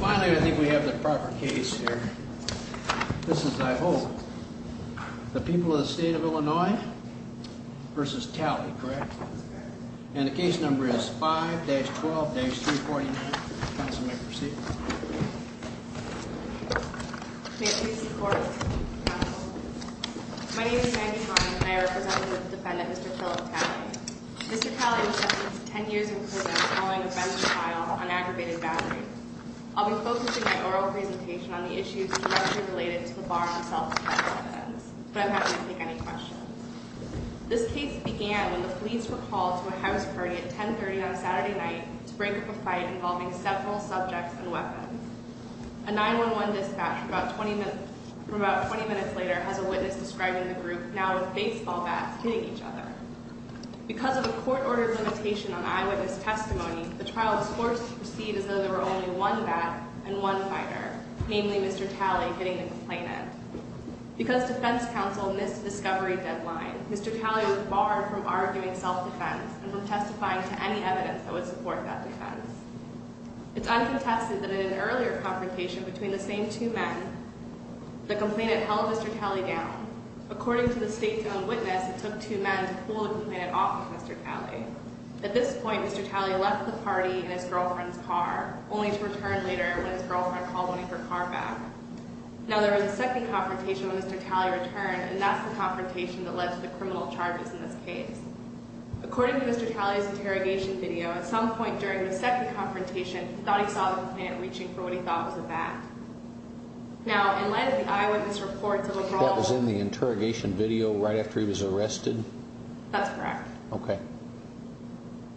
I think we have the proper case here. This is, I hope, the people of the state of Illinois versus Tally, correct? And the case number is 5-12-349. Counsel may proceed. My name is Maggie Heine and I represent the defendant, Mr. Philip Tally. Mr. Tally was sentenced to 10 years in prison following a felony trial on aggravated battery. I'll be focusing my oral presentation on the issues directly related to the bar and self-defense offense, but I'm happy to take any questions. This case began when the police were called to a house party at 1030 on a Saturday night to break up a fight involving several subjects and weapons. A 911 dispatch from about 20 minutes later has a witness describing the group now as baseball bats hitting each other. Because of a court-ordered limitation on eyewitness testimony, the trial was forced to proceed as though there were only one bat and one fighter, namely Mr. Tally, hitting the complainant. Because defense counsel missed the discovery deadline, Mr. Tally was barred from arguing self-defense and from testifying to any evidence that would support that defense. It's uncontested that in an earlier confrontation between the same two men, the complainant held Mr. Tally down. According to the state's own witness, it took two men to pull the complainant off of Mr. Tally. At this point, Mr. Tally left the party in his girlfriend's car, only to return later when his girlfriend called him for car back. Now, there was a second confrontation when Mr. Tally returned, and that's the confrontation that led to the criminal charges in this case. According to Mr. Tally's interrogation video, at some point during the second confrontation, he thought he saw the complainant reaching for what he thought was a bat. Now, in light of the eyewitness reports of a brawl... That was in the interrogation video right after he was arrested? That's correct. Okay.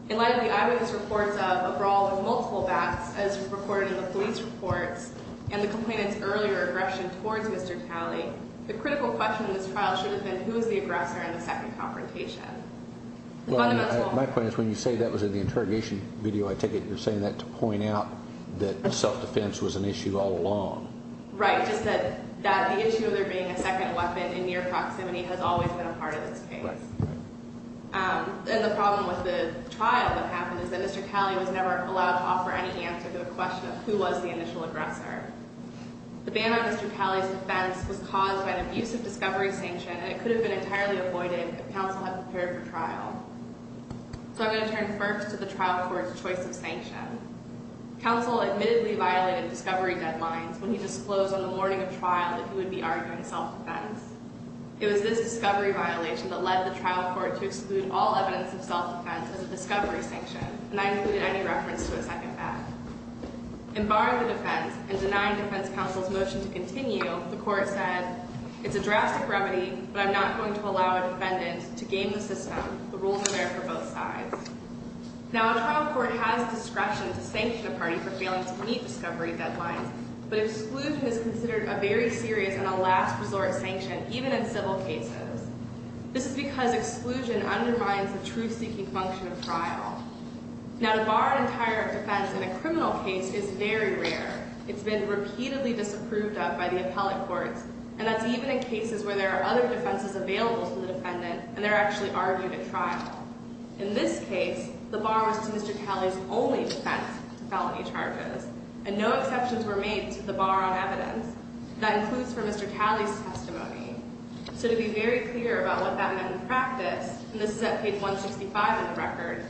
In light of the eyewitness reports of a brawl of multiple bats, as reported in the police reports, and the complainant's earlier aggression towards Mr. Tally, the critical question in this trial should have been, who is the aggressor in the second confrontation? My point is, when you say that was in the interrogation video, I take it you're saying that to point out that self-defense was an issue all along? Right, just that the issue of there being a second weapon in near proximity has always been a part of this case. And the problem with the trial that happened is that Mr. Tally was never allowed to offer any answer to the question of who was the initial aggressor. The ban on Mr. Tally's defense was caused by an abusive discovery sanction, and it could have been entirely avoided if counsel had prepared for trial. So I'm going to turn first to the trial court's choice of sanction. Counsel admittedly violated discovery deadlines when he disclosed on the morning of trial that he would be arguing self-defense. It was this discovery violation that led the trial court to exclude all evidence of self-defense as a discovery sanction, and I included any reference to a second back. In barring the defense and denying defense counsel's motion to continue, the court said, it's a drastic remedy, but I'm not going to allow a defendant to game the system. The rules are there for both sides. Now, a trial court has discretion to sanction a party for failing to meet discovery deadlines, but exclusion is considered a very serious and a last resort sanction, even in civil cases. This is because exclusion undermines the truth-seeking function of trial. Now, to bar an entire defense in a criminal case is very rare. It's been repeatedly disapproved of by the appellate courts, and that's even in cases where there are other defenses available to the defendant, and they're actually argued at trial. In this case, the bar was to Mr. Tally's only defense, felony charges, and no exceptions were made to the bar on evidence. That includes for Mr. Tally's testimony. So to be very clear about what that meant in practice, and this is at page 165 in the record,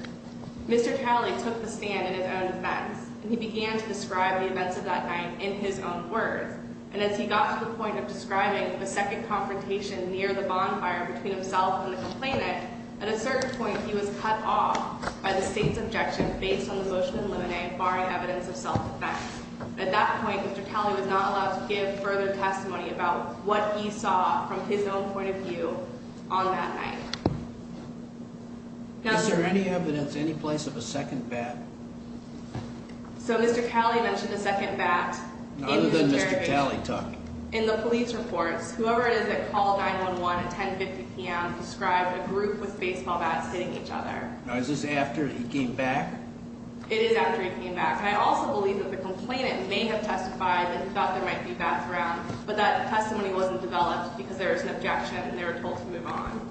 Mr. Tally took the stand in his own defense, and he began to describe the events of that night in his own words, and as he got to the point of describing the second confrontation near the bonfire between himself and the complainant, at a certain point, he was cut off by the state's objection based on the motion in limine, barring evidence of self-defense. At that point, Mr. Tally was not allowed to give further testimony about what he saw from his own point of view on that night. Is there any evidence, any place of a second bat? So Mr. Tally mentioned a second bat. Other than Mr. Tally took. In the police reports, whoever it is that called 911 at 10.50 p.m. described a group with baseball bats hitting each other. Now is this after he came back? It is after he came back, and I also believe that the complainant may have testified that he thought there might be bats around, but that testimony wasn't developed because there was an objection, and they were told to move on.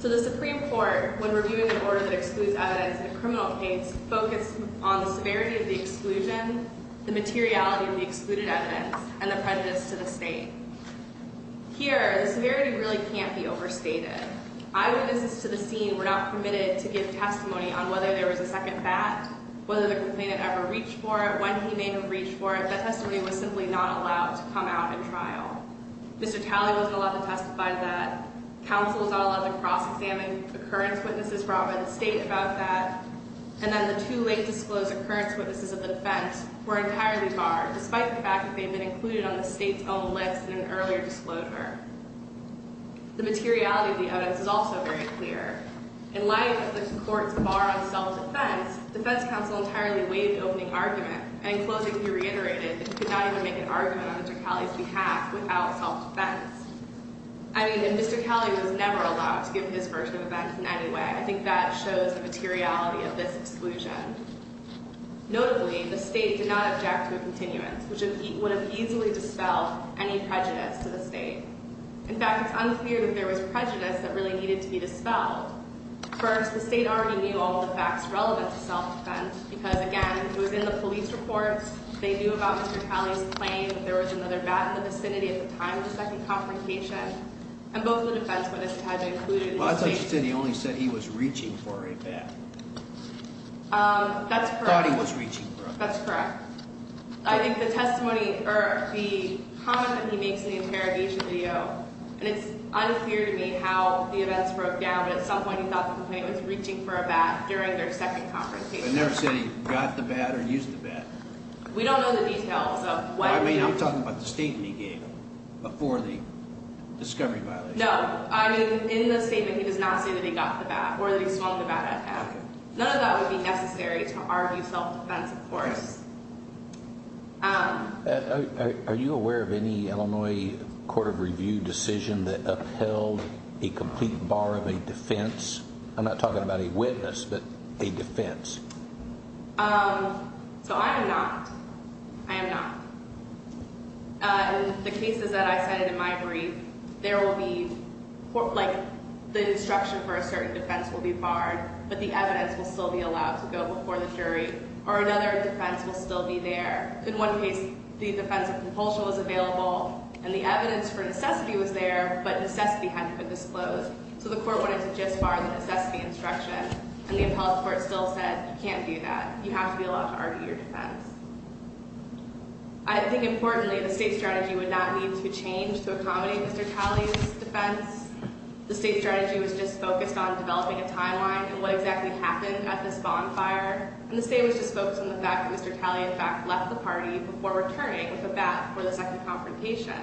So the Supreme Court, when reviewing an order that excludes evidence in a criminal case, focused on the severity of the exclusion, the materiality of the excluded evidence, and the prejudice to the state. Here, the severity really can't be overstated. Eyewitnesses to the scene were not permitted to give testimony on whether there was a second bat, whether the complainant ever reached for it, when he may have reached for it. That testimony was simply not allowed to come out in trial. Mr. Tally wasn't allowed to testify to that. Counsel was not allowed to cross-examine occurrence witnesses brought by the state about that. And then the two late disclosed occurrence witnesses of the defense were entirely barred, despite the fact that they had been included on the state's own list in an earlier disclosure. The materiality of the evidence is also very clear. In light of the court's bar on self-defense, defense counsel entirely waived the opening argument, and in closing, he reiterated that he could not even make an argument on Mr. Tally's behalf without self-defense. I mean, and Mr. Tally was never allowed to give his version of events in any way. I think that shows the materiality of this exclusion. Notably, the state did not object to a continuance, which would have easily dispelled any prejudice to the state. In fact, it's unclear that there was prejudice that really needed to be dispelled. First, the state already knew all the facts relevant to self-defense, because, again, it was in the police reports. They knew about Mr. Tally's claim that there was another bat in the vicinity at the time of the second confrontation. And both the defense witnesses had been included in the state's— Well, I thought you said he only said he was reaching for a bat. That's correct. Thought he was reaching for a bat. That's correct. I think the testimony—or the comment that he makes in the interrogation video, and it's unclear to me how the events broke down, but at some point he thought the complaint was reaching for a bat during their second confrontation. But it never said he got the bat or used the bat. We don't know the details of when he— I mean, you're talking about the statement he gave before the discovery violation. No. I mean, in the statement he does not say that he got the bat or that he swung the bat at him. None of that would be necessary to argue self-defense, of course. Are you aware of any Illinois court of review decision that upheld a complete bar of a defense? I'm not talking about a witness, but a defense. So, I am not. I am not. In the cases that I cited in my brief, there will be, like, the instruction for a certain defense will be barred, but the evidence will still be allowed to go before the jury. Or another defense will still be there. In one case, the defense of compulsion was available, and the evidence for necessity was there, but necessity hadn't been disclosed. So, the court wanted to just bar the necessity instruction, and the appellate court still said, you can't do that. You have to be allowed to argue your defense. I think, importantly, the state strategy would not need to change to accommodate Mr. Talley's defense. The state strategy was just focused on developing a timeline of what exactly happened at this bonfire, and the state was just focused on the fact that Mr. Talley, in fact, left the party before returning with a bat for the second confrontation.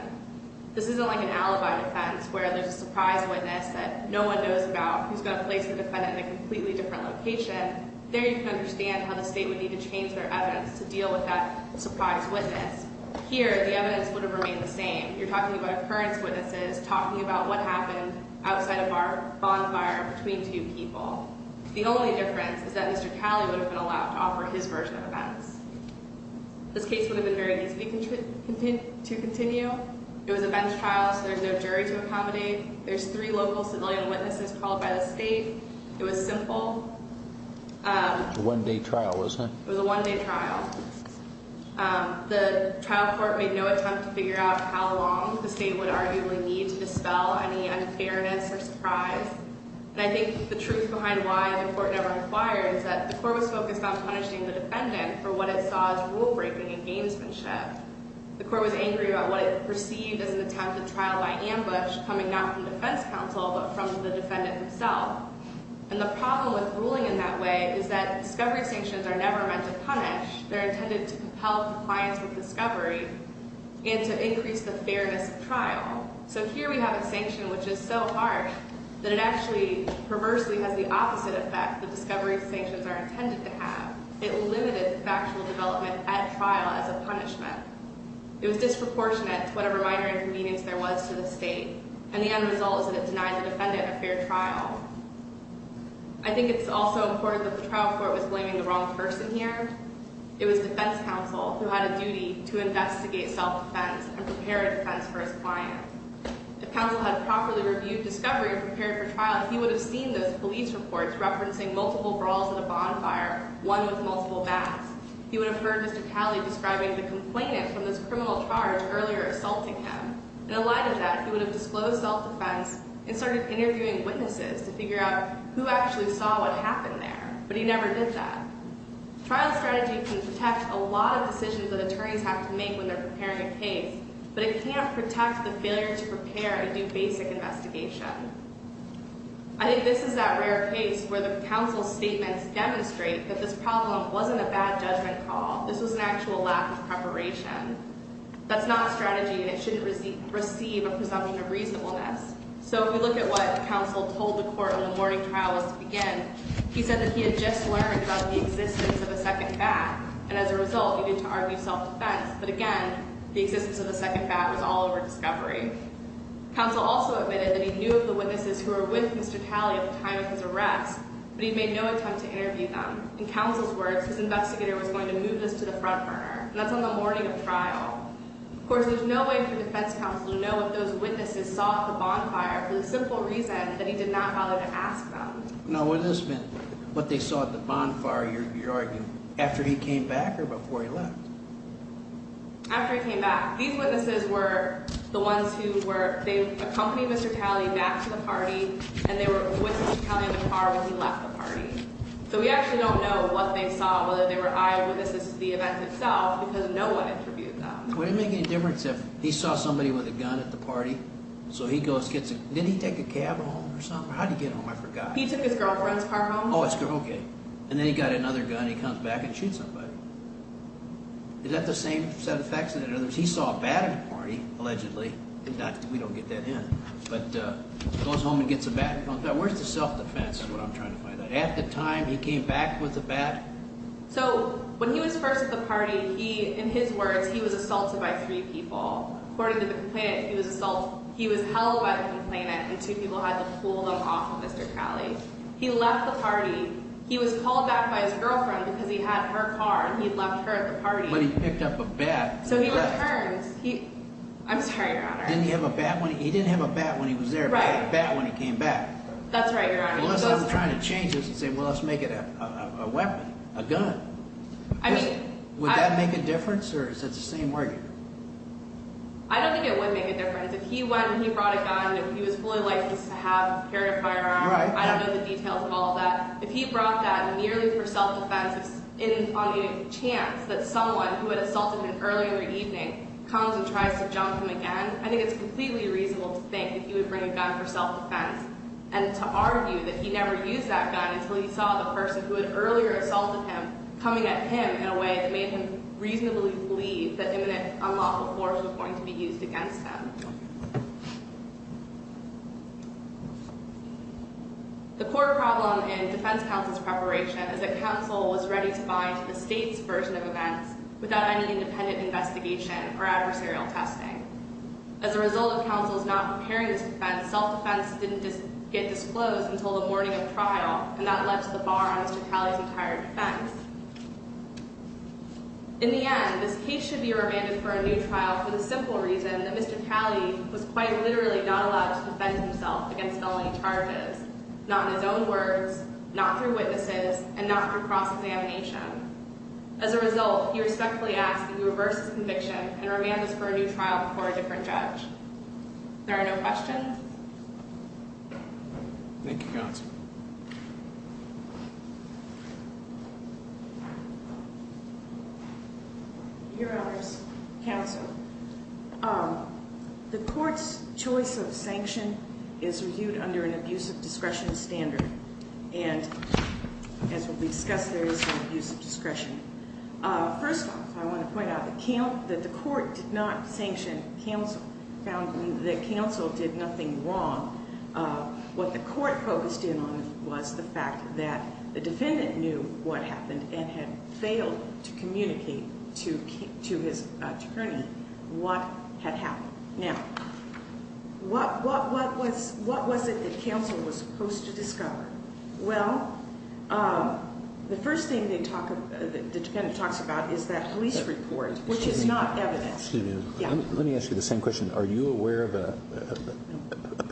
This isn't like an alibi defense where there's a surprise witness that no one knows about who's going to place the defendant in a completely different location. There you can understand how the state would need to change their evidence to deal with that surprise witness. Here, the evidence would have remained the same. You're talking about occurrence witnesses, talking about what happened outside of our bonfire between two people. The only difference is that Mr. Talley would have been allowed to offer his version of events. This case would have been very easy to continue. It was a bench trial, so there's no jury to accommodate. There's three local civilian witnesses called by the state. It was simple. It was a one-day trial, wasn't it? It was a one-day trial. The trial court made no attempt to figure out how long the state would arguably need to dispel any unfairness or surprise. And I think the truth behind why the court never inquired is that the court was focused on punishing the defendant for what it saw as rule-breaking and gamesmanship. The court was angry about what it perceived as an attempt at trial by ambush coming not from defense counsel but from the defendant himself. And the problem with ruling in that way is that discovery sanctions are never meant to punish. They're intended to propel compliance with discovery and to increase the fairness of trial. So here we have a sanction which is so harsh that it actually perversely has the opposite effect that discovery sanctions are intended to have. It limited factual development at trial as a punishment. It was disproportionate to whatever minor inconvenience there was to the state. And the end result is that it denied the defendant a fair trial. I think it's also important that the trial court was blaming the wrong person here. It was defense counsel who had a duty to investigate self-defense and prepare defense for his client. If counsel had properly reviewed discovery and prepared for trial, he would have seen those police reports referencing multiple brawls at a bonfire, one with multiple bats. He would have heard Mr. Calley describing the complainant from this criminal charge earlier assaulting him. In light of that, he would have disclosed self-defense and started interviewing witnesses to figure out who actually saw what happened there. But he never did that. Trial strategy can protect a lot of decisions that attorneys have to make when they're preparing a case, but it can't protect the failure to prepare and do basic investigation. I think this is that rare case where the counsel's statements demonstrate that this problem wasn't a bad judgment call. This was an actual lack of preparation. That's not strategy, and it shouldn't receive a presumption of reasonableness. So if you look at what counsel told the court when the morning trial was to begin, he said that he had just learned about the existence of a second bat, and as a result, he didn't argue self-defense. But again, the existence of a second bat was all over discovery. Counsel also admitted that he knew of the witnesses who were with Mr. Calley at the time of his arrest, but he made no attempt to interview them. In counsel's words, his investigator was going to move this to the front burner, and that's on the morning of trial. Of course, there's no way for defense counsel to know if those witnesses saw the bonfire for the simple reason that he did not bother to ask them. Now, what does this mean? What they saw at the bonfire, you're arguing, after he came back or before he left? After he came back. These witnesses were the ones who were, they accompanied Mr. Calley back to the party, and they were with Mr. Calley in the car when he left the party. So we actually don't know what they saw, whether they were eyewitnesses to the event itself, because no one interviewed them. Would it make any difference if he saw somebody with a gun at the party, so he goes, gets a, did he take a cab home or something? How did he get home? I forgot. He took his girlfriend's car home. Oh, his girl, okay. And then he got another gun. He comes back and shoots somebody. Is that the same set of facts? In other words, he saw a bat at the party, allegedly. We don't get that in. But goes home and gets a bat. Where's the self-defense is what I'm trying to find out. At the time he came back with a bat? So when he was first at the party, he, in his words, he was assaulted by three people. According to the complainant, he was held by the complainant, and two people had to pull them off of Mr. Calley. He left the party. He was called back by his girlfriend because he had her car and he had left her at the party. But he picked up a bat. So he left. He left. I'm sorry, Your Honor. Didn't he have a bat when he, he didn't have a bat when he was there, but he had a bat when he came back. That's right, Your Honor. Unless I'm trying to change this and say, well, let's make it a weapon, a gun. I mean. Would that make a difference or is that the same word? I don't think it would make a difference. If he went and he brought a gun and he was fully licensed to have, carry a firearm. Right. I don't know the details of all of that. If he brought that merely for self-defense on any chance that someone who had assaulted him earlier in the evening comes and tries to jump him again, I think it's completely reasonable to think that he would bring a gun for self-defense and to argue that he never used that gun until he saw the person who had earlier assaulted him coming at him in a way that made him reasonably believe that imminent unlawful force was going to be used against him. The core problem in defense counsel's preparation is that counsel was ready to bind to the state's version of events without any independent investigation or adversarial testing. As a result of counsel's not preparing this defense, self-defense didn't get disclosed until the morning of trial and that left the bar on Mr. Talley's entire defense. In the end, this case should be remanded for a new trial for the simple reason that Mr. Talley was clearly not allowed to defend himself against felony charges, not in his own words, not through witnesses, and not through cross-examination. As a result, he respectfully asks that we reverse his conviction and remand this for a new trial before a different judge. There are no questions? Thank you, counsel. Your Honors, counsel. The court's choice of sanction is reviewed under an abusive discretion standard. And as will be discussed, there is an abuse of discretion. First off, I want to point out that the court did not sanction counsel. The counsel did nothing wrong. What the court focused in on was the fact that the defendant knew what happened and had failed to communicate to his attorney what had happened. Now, what was it that counsel was supposed to discover? Well, the first thing the defendant talks about is that police report, which is not evidence. Excuse me. Yeah. Let me ask you the same question. Are you aware if a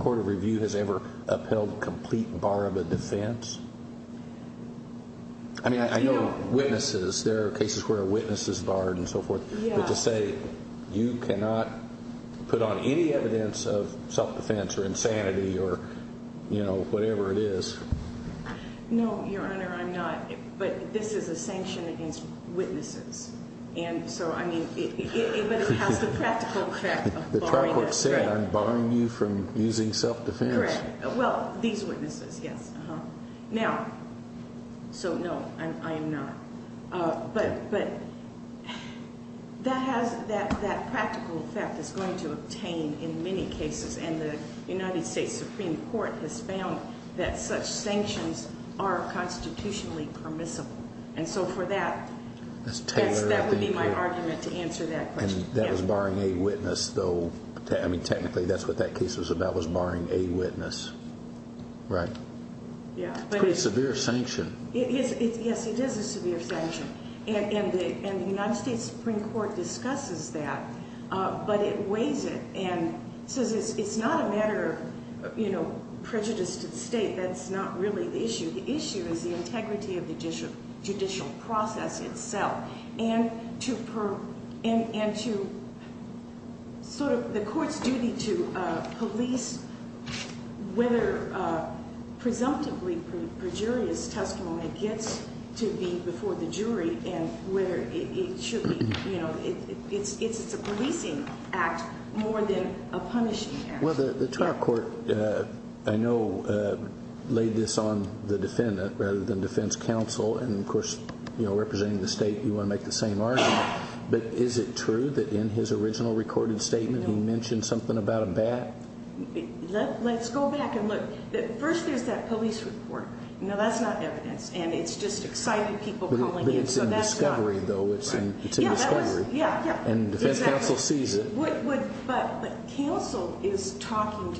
court of review has ever upheld a complete bar of a defense? I mean, I know witnesses. There are cases where a witness is barred and so forth. Yeah. But to say you cannot put on any evidence of self-defense or insanity or, you know, whatever it is. No, Your Honor, I'm not. But this is a sanction against witnesses. And so, I mean, it has the practical effect of barring us. The trial court said I'm barring you from using self-defense. Correct. Well, these witnesses, yes. Uh-huh. Now, so no, I am not. Okay. But that practical effect is going to obtain in many cases. And the United States Supreme Court has found that such sanctions are constitutionally permissible. And so for that, that would be my argument to answer that question. And that was barring a witness, though. I mean, technically, that's what that case was about, was barring a witness. Right. Yeah. It's a pretty severe sanction. Yes, it is a severe sanction. And the United States Supreme Court discusses that, but it weighs it and says it's not a matter of, you know, prejudice to the state. That's not really the issue. The issue is the integrity of the judicial process itself. And to sort of the court's duty to police whether presumptively perjurious testimony gets to be before the jury and whether it should be, you know, it's a policing act more than a punishing act. Well, the trial court, I know, laid this on the defendant rather than defense counsel, and, of course, you know, representing the state, you want to make the same argument. But is it true that in his original recorded statement he mentioned something about a bat? Let's go back and look. First, there's that police report. Now, that's not evidence, and it's just excited people calling in. But it's in discovery, though. It's in discovery. Yeah, yeah. And defense counsel sees it. But counsel is talking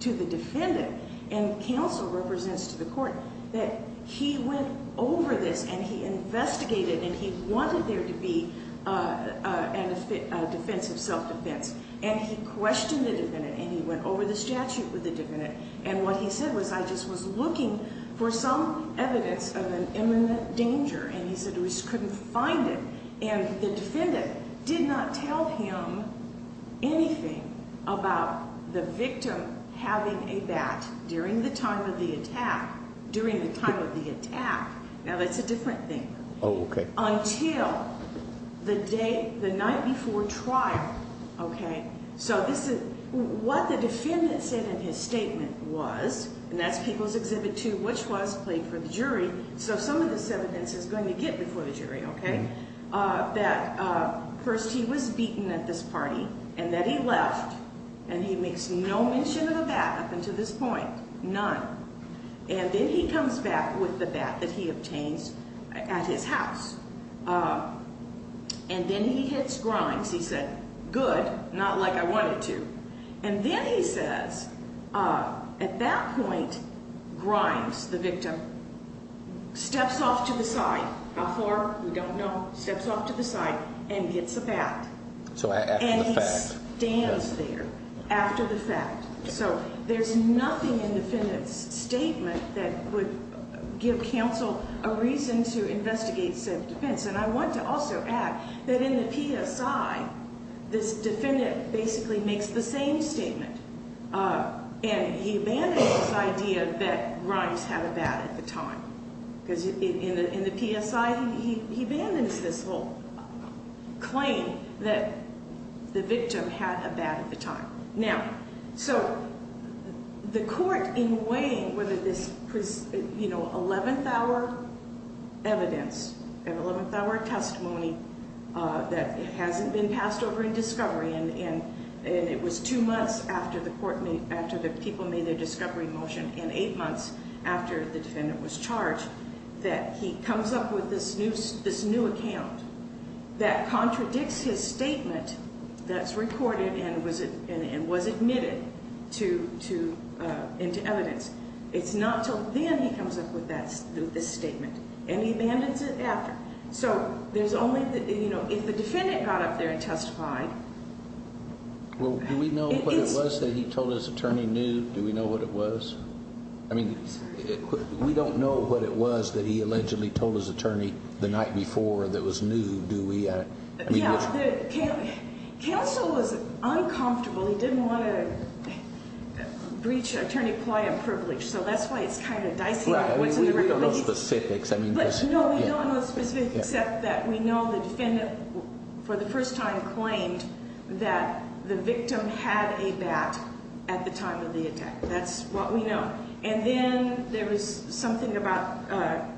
to the defendant, and counsel represents to the court that he went over this, and he investigated, and he wanted there to be a defense of self-defense. And he questioned the defendant, and he went over the statute with the defendant. And what he said was, I just was looking for some evidence of an imminent danger. And he said he couldn't find it. And the defendant did not tell him anything about the victim having a bat during the time of the attack. During the time of the attack. Now, that's a different thing. Oh, okay. Until the night before trial, okay? So this is what the defendant said in his statement was, and that's People's Exhibit 2, which was played for the jury. So some of this evidence is going to get before the jury, okay? That first he was beaten at this party, and then he left, and he makes no mention of a bat up until this point. None. And then he comes back with the bat that he obtained at his house. And then he hits Grimes. He said, good, not like I wanted to. And then he says, at that point, Grimes, the victim, steps off to the side. How far? We don't know. Steps off to the side and gets a bat. So after the fact. So there's nothing in the defendant's statement that would give counsel a reason to investigate self-defense. And I want to also add that in the PSI, this defendant basically makes the same statement, and he abandons this idea that Grimes had a bat at the time. Because in the PSI, he abandons this whole claim that the victim had a bat at the time. Now, so the court, in weighing whether this, you know, 11th-hour evidence, 11th-hour testimony that hasn't been passed over in discovery, and it was two months after the people made their discovery motion and eight months after the defendant was charged, that he comes up with this new account that contradicts his statement that's recorded and was admitted into evidence. It's not until then he comes up with this statement. And he abandons it after. So there's only, you know, if the defendant got up there and testified. Well, do we know what it was that he told his attorney new? Do we know what it was? I mean, we don't know what it was that he allegedly told his attorney the night before that was new, do we? Yeah. Counsel was uncomfortable. He didn't want to breach attorney ploy and privilege. So that's why it's kind of dicey. We don't know specifics. But, no, we don't know specifics except that we know the defendant, for the first time, claimed that the victim had a bat at the time of the attack. That's what we know. And then there was something about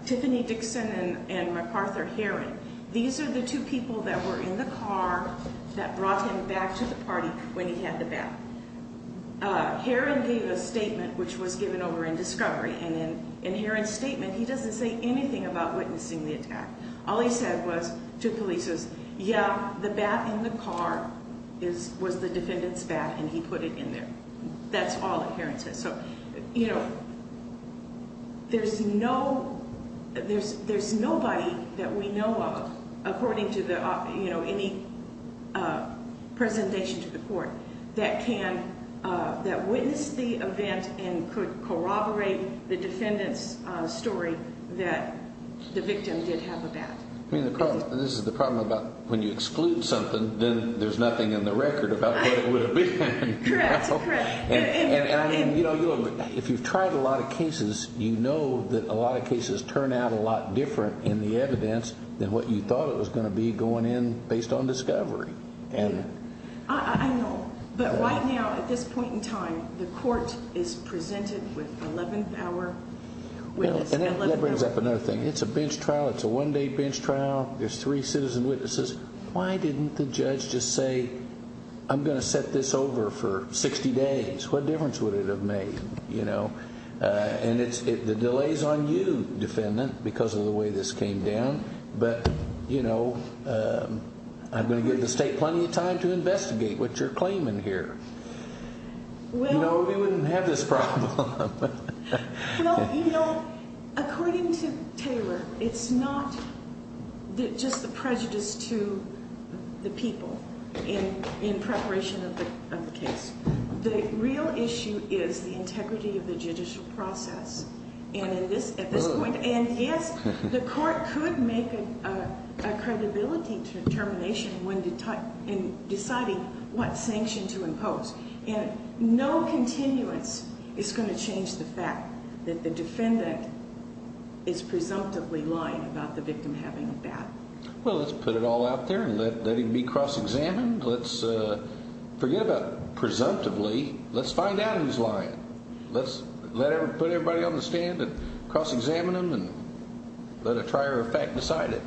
Tiffany Dixon and MacArthur Heron. These are the two people that were in the car that brought him back to the party when he had the bat. Heron gave a statement, which was given over in discovery. And in Heron's statement, he doesn't say anything about witnessing the attack. All he said was to police is, yeah, the bat in the car was the defendant's bat, and he put it in there. That's all Heron says. So, you know, there's nobody that we know of, according to any presentation to the court, that witnessed the event and could corroborate the defendant's story that the victim did have a bat. I mean, this is the problem about when you exclude something, then there's nothing in the record about what it would have been. Correct, correct. And, you know, if you've tried a lot of cases, you know that a lot of cases turn out a lot different in the evidence than what you thought it was going to be going in based on discovery. I know, but right now, at this point in time, the court is presented with 11th hour witnesses. And that brings up another thing. It's a bench trial. It's a one-day bench trial. There's three citizen witnesses. Why didn't the judge just say, I'm going to set this over for 60 days? What difference would it have made? And the delay's on you, defendant, because of the way this came down. But, you know, I'm going to give the state plenty of time to investigate what you're claiming here. You know, we wouldn't have this problem. Well, you know, according to Taylor, it's not just the prejudice to the people in preparation of the case. The real issue is the integrity of the judicial process. And at this point, and, yes, the court could make a credibility determination in deciding what sanction to impose. And no continuance is going to change the fact that the defendant is presumptively lying about the victim having a bat. Well, let's put it all out there and let it be cross-examined. Let's forget about presumptively. Let's find out who's lying. Let's put everybody on the stand and cross-examine them and let a trier of fact decide it.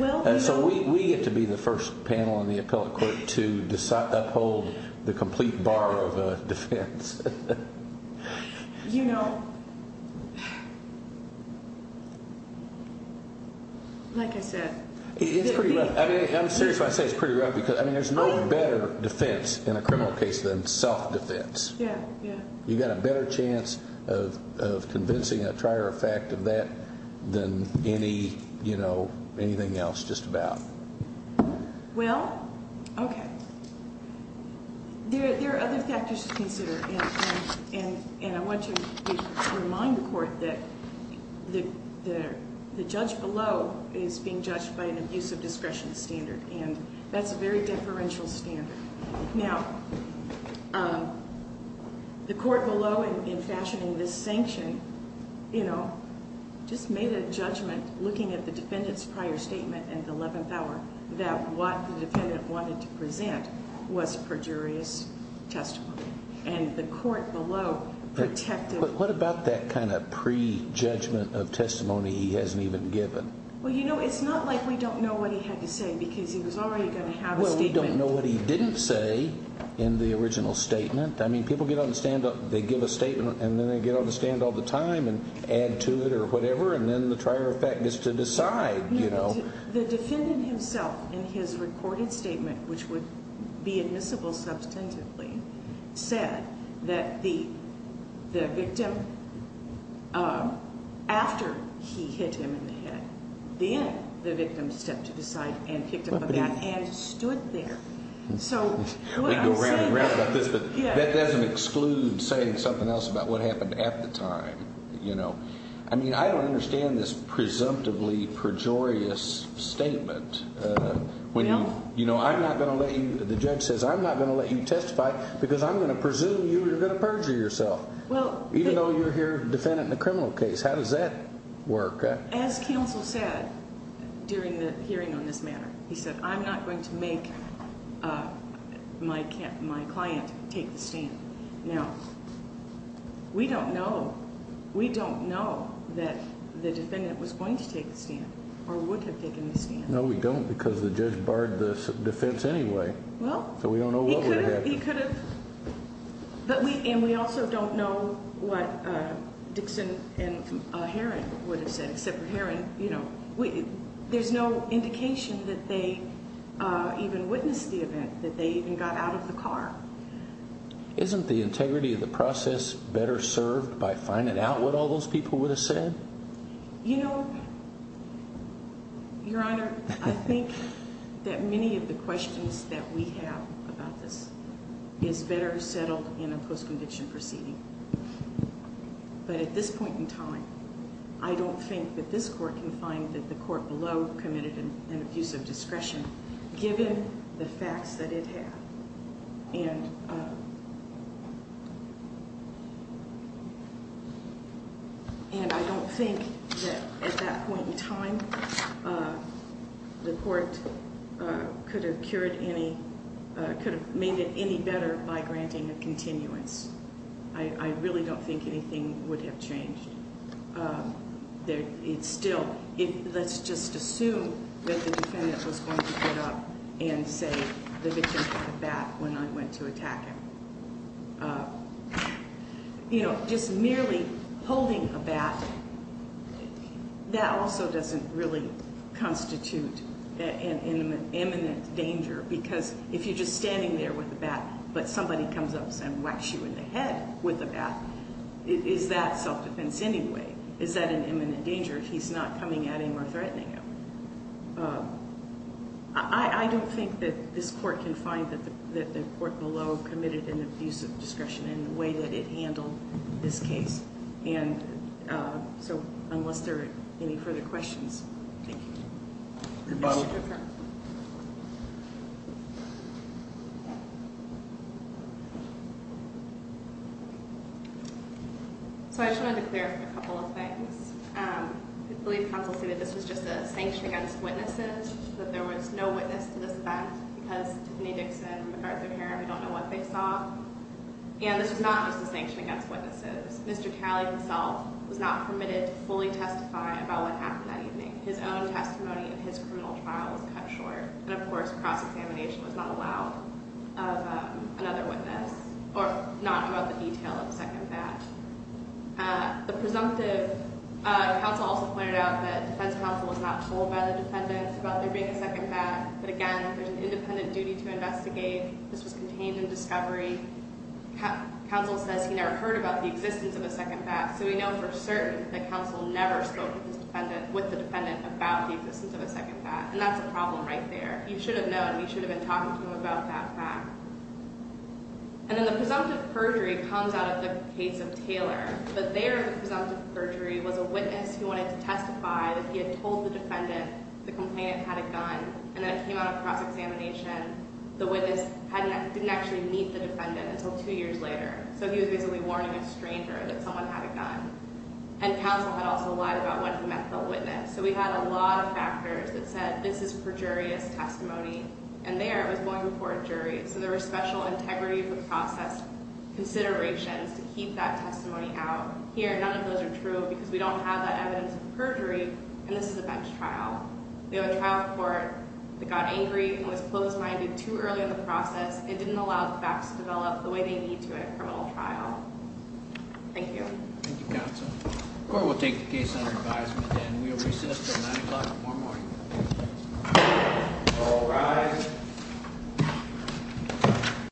And so we get to be the first panel in the appellate court to uphold the complete bar of defense. You know, like I said. It's pretty rough. I mean, I'm serious when I say it's pretty rough because, I mean, there's no better defense in a criminal case than self-defense. Yeah, yeah. You've got a better chance of convincing a trier of fact of that than any, you know, anything else just about. Well, okay. There are other factors to consider, and I want to remind the court that the judge below is being judged by an abuse of discretion standard, and that's a very deferential standard. Now, the court below in fashioning this sanction, you know, just made a judgment looking at the defendant's prior statement and the 11th hour that what the defendant wanted to present was perjurious testimony, and the court below protected. But what about that kind of prejudgment of testimony he hasn't even given? Well, you know, it's not like we don't know what he had to say because he was already going to have a statement. Well, we don't know what he didn't say in the original statement. I mean, people get on the stand, they give a statement, and then they get on the stand all the time and add to it or whatever, and then the prior effect is to decide, you know. The defendant himself in his recorded statement, which would be admissible substantively, said that the victim, after he hit him in the head, then the victim stepped to the side and picked up a bat and stood there. So what I'm saying is that doesn't exclude saying something else about what happened at the time, you know. I mean, I don't understand this presumptively pejorious statement. You know, I'm not going to let you, the judge says, I'm not going to let you testify because I'm going to presume you're going to perjure yourself, even though you're here defending a criminal case. How does that work? As counsel said during the hearing on this matter, he said, I'm not going to make my client take the stand. Now, we don't know. We don't know that the defendant was going to take the stand or would have taken the stand. No, we don't because the judge barred the defense anyway. So we don't know what would have happened. He could have. And we also don't know what Dixon and Herron would have said, except for Herron, you know, there's no indication that they even witnessed the event, that they even got out of the car. Isn't the integrity of the process better served by finding out what all those people would have said? You know, Your Honor, I think that many of the questions that we have about this is better settled in a post-conviction proceeding. But at this point in time, I don't think that this court can find that the court below committed an abuse of discretion, given the facts that it had. And I don't think that at that point in time, the court could have made it any better by granting a continuance. I really don't think anything would have changed. It's still, let's just assume that the defendant was going to get up and say, the victim had a bat when I went to attack him. You know, just merely holding a bat, that also doesn't really constitute an imminent danger, because if you're just standing there with a bat, but somebody comes up and whacks you in the head with a bat, is that self-defense anyway? Is that an imminent danger if he's not coming at him or threatening him? I don't think that this court can find that the court below committed an abuse of discretion in the way that it handled this case. And so unless there are any further questions. Thank you. Rebuttal. So I just wanted to clarify a couple of things. I believe counsel stated this was just a sanction against witnesses, that there was no witness to this event, because Tiffany Dixon, MacArthur Herron, we don't know what they saw. And this was not just a sanction against witnesses. Mr. Calley himself was not permitted to fully testify about what happened that evening. His own testimony in his criminal trial was cut short. And, of course, cross-examination was not allowed of another witness, or not about the detail of the second bat. The presumptive counsel also pointed out that defense counsel was not told by the defendants about there being a second bat. But, again, there's an independent duty to investigate. This was contained in discovery. Counsel says he never heard about the existence of a second bat. So we know for certain that counsel never spoke with the defendant about the existence of a second bat. And that's a problem right there. You should have known. You should have been talking to him about that fact. And then the presumptive perjury comes out of the case of Taylor. But there the presumptive perjury was a witness who wanted to testify that he had told the defendant the complainant had a gun. And then it came out of cross-examination. The witness didn't actually meet the defendant until two years later. So he was basically warning a stranger that someone had a gun. And counsel had also lied about when he met the witness. So we had a lot of factors that said this is perjurious testimony. And there it was going before a jury. So there were special integrity of the process considerations to keep that testimony out. Here none of those are true because we don't have that evidence of perjury, and this is a bench trial. We have a trial court that got angry and was closed-minded too early in the process and didn't allow the facts to develop the way they need to at a criminal trial. Thank you. Thank you, counsel. The court will take the case under advisement and we will recess until 9 o'clock tomorrow morning. All rise.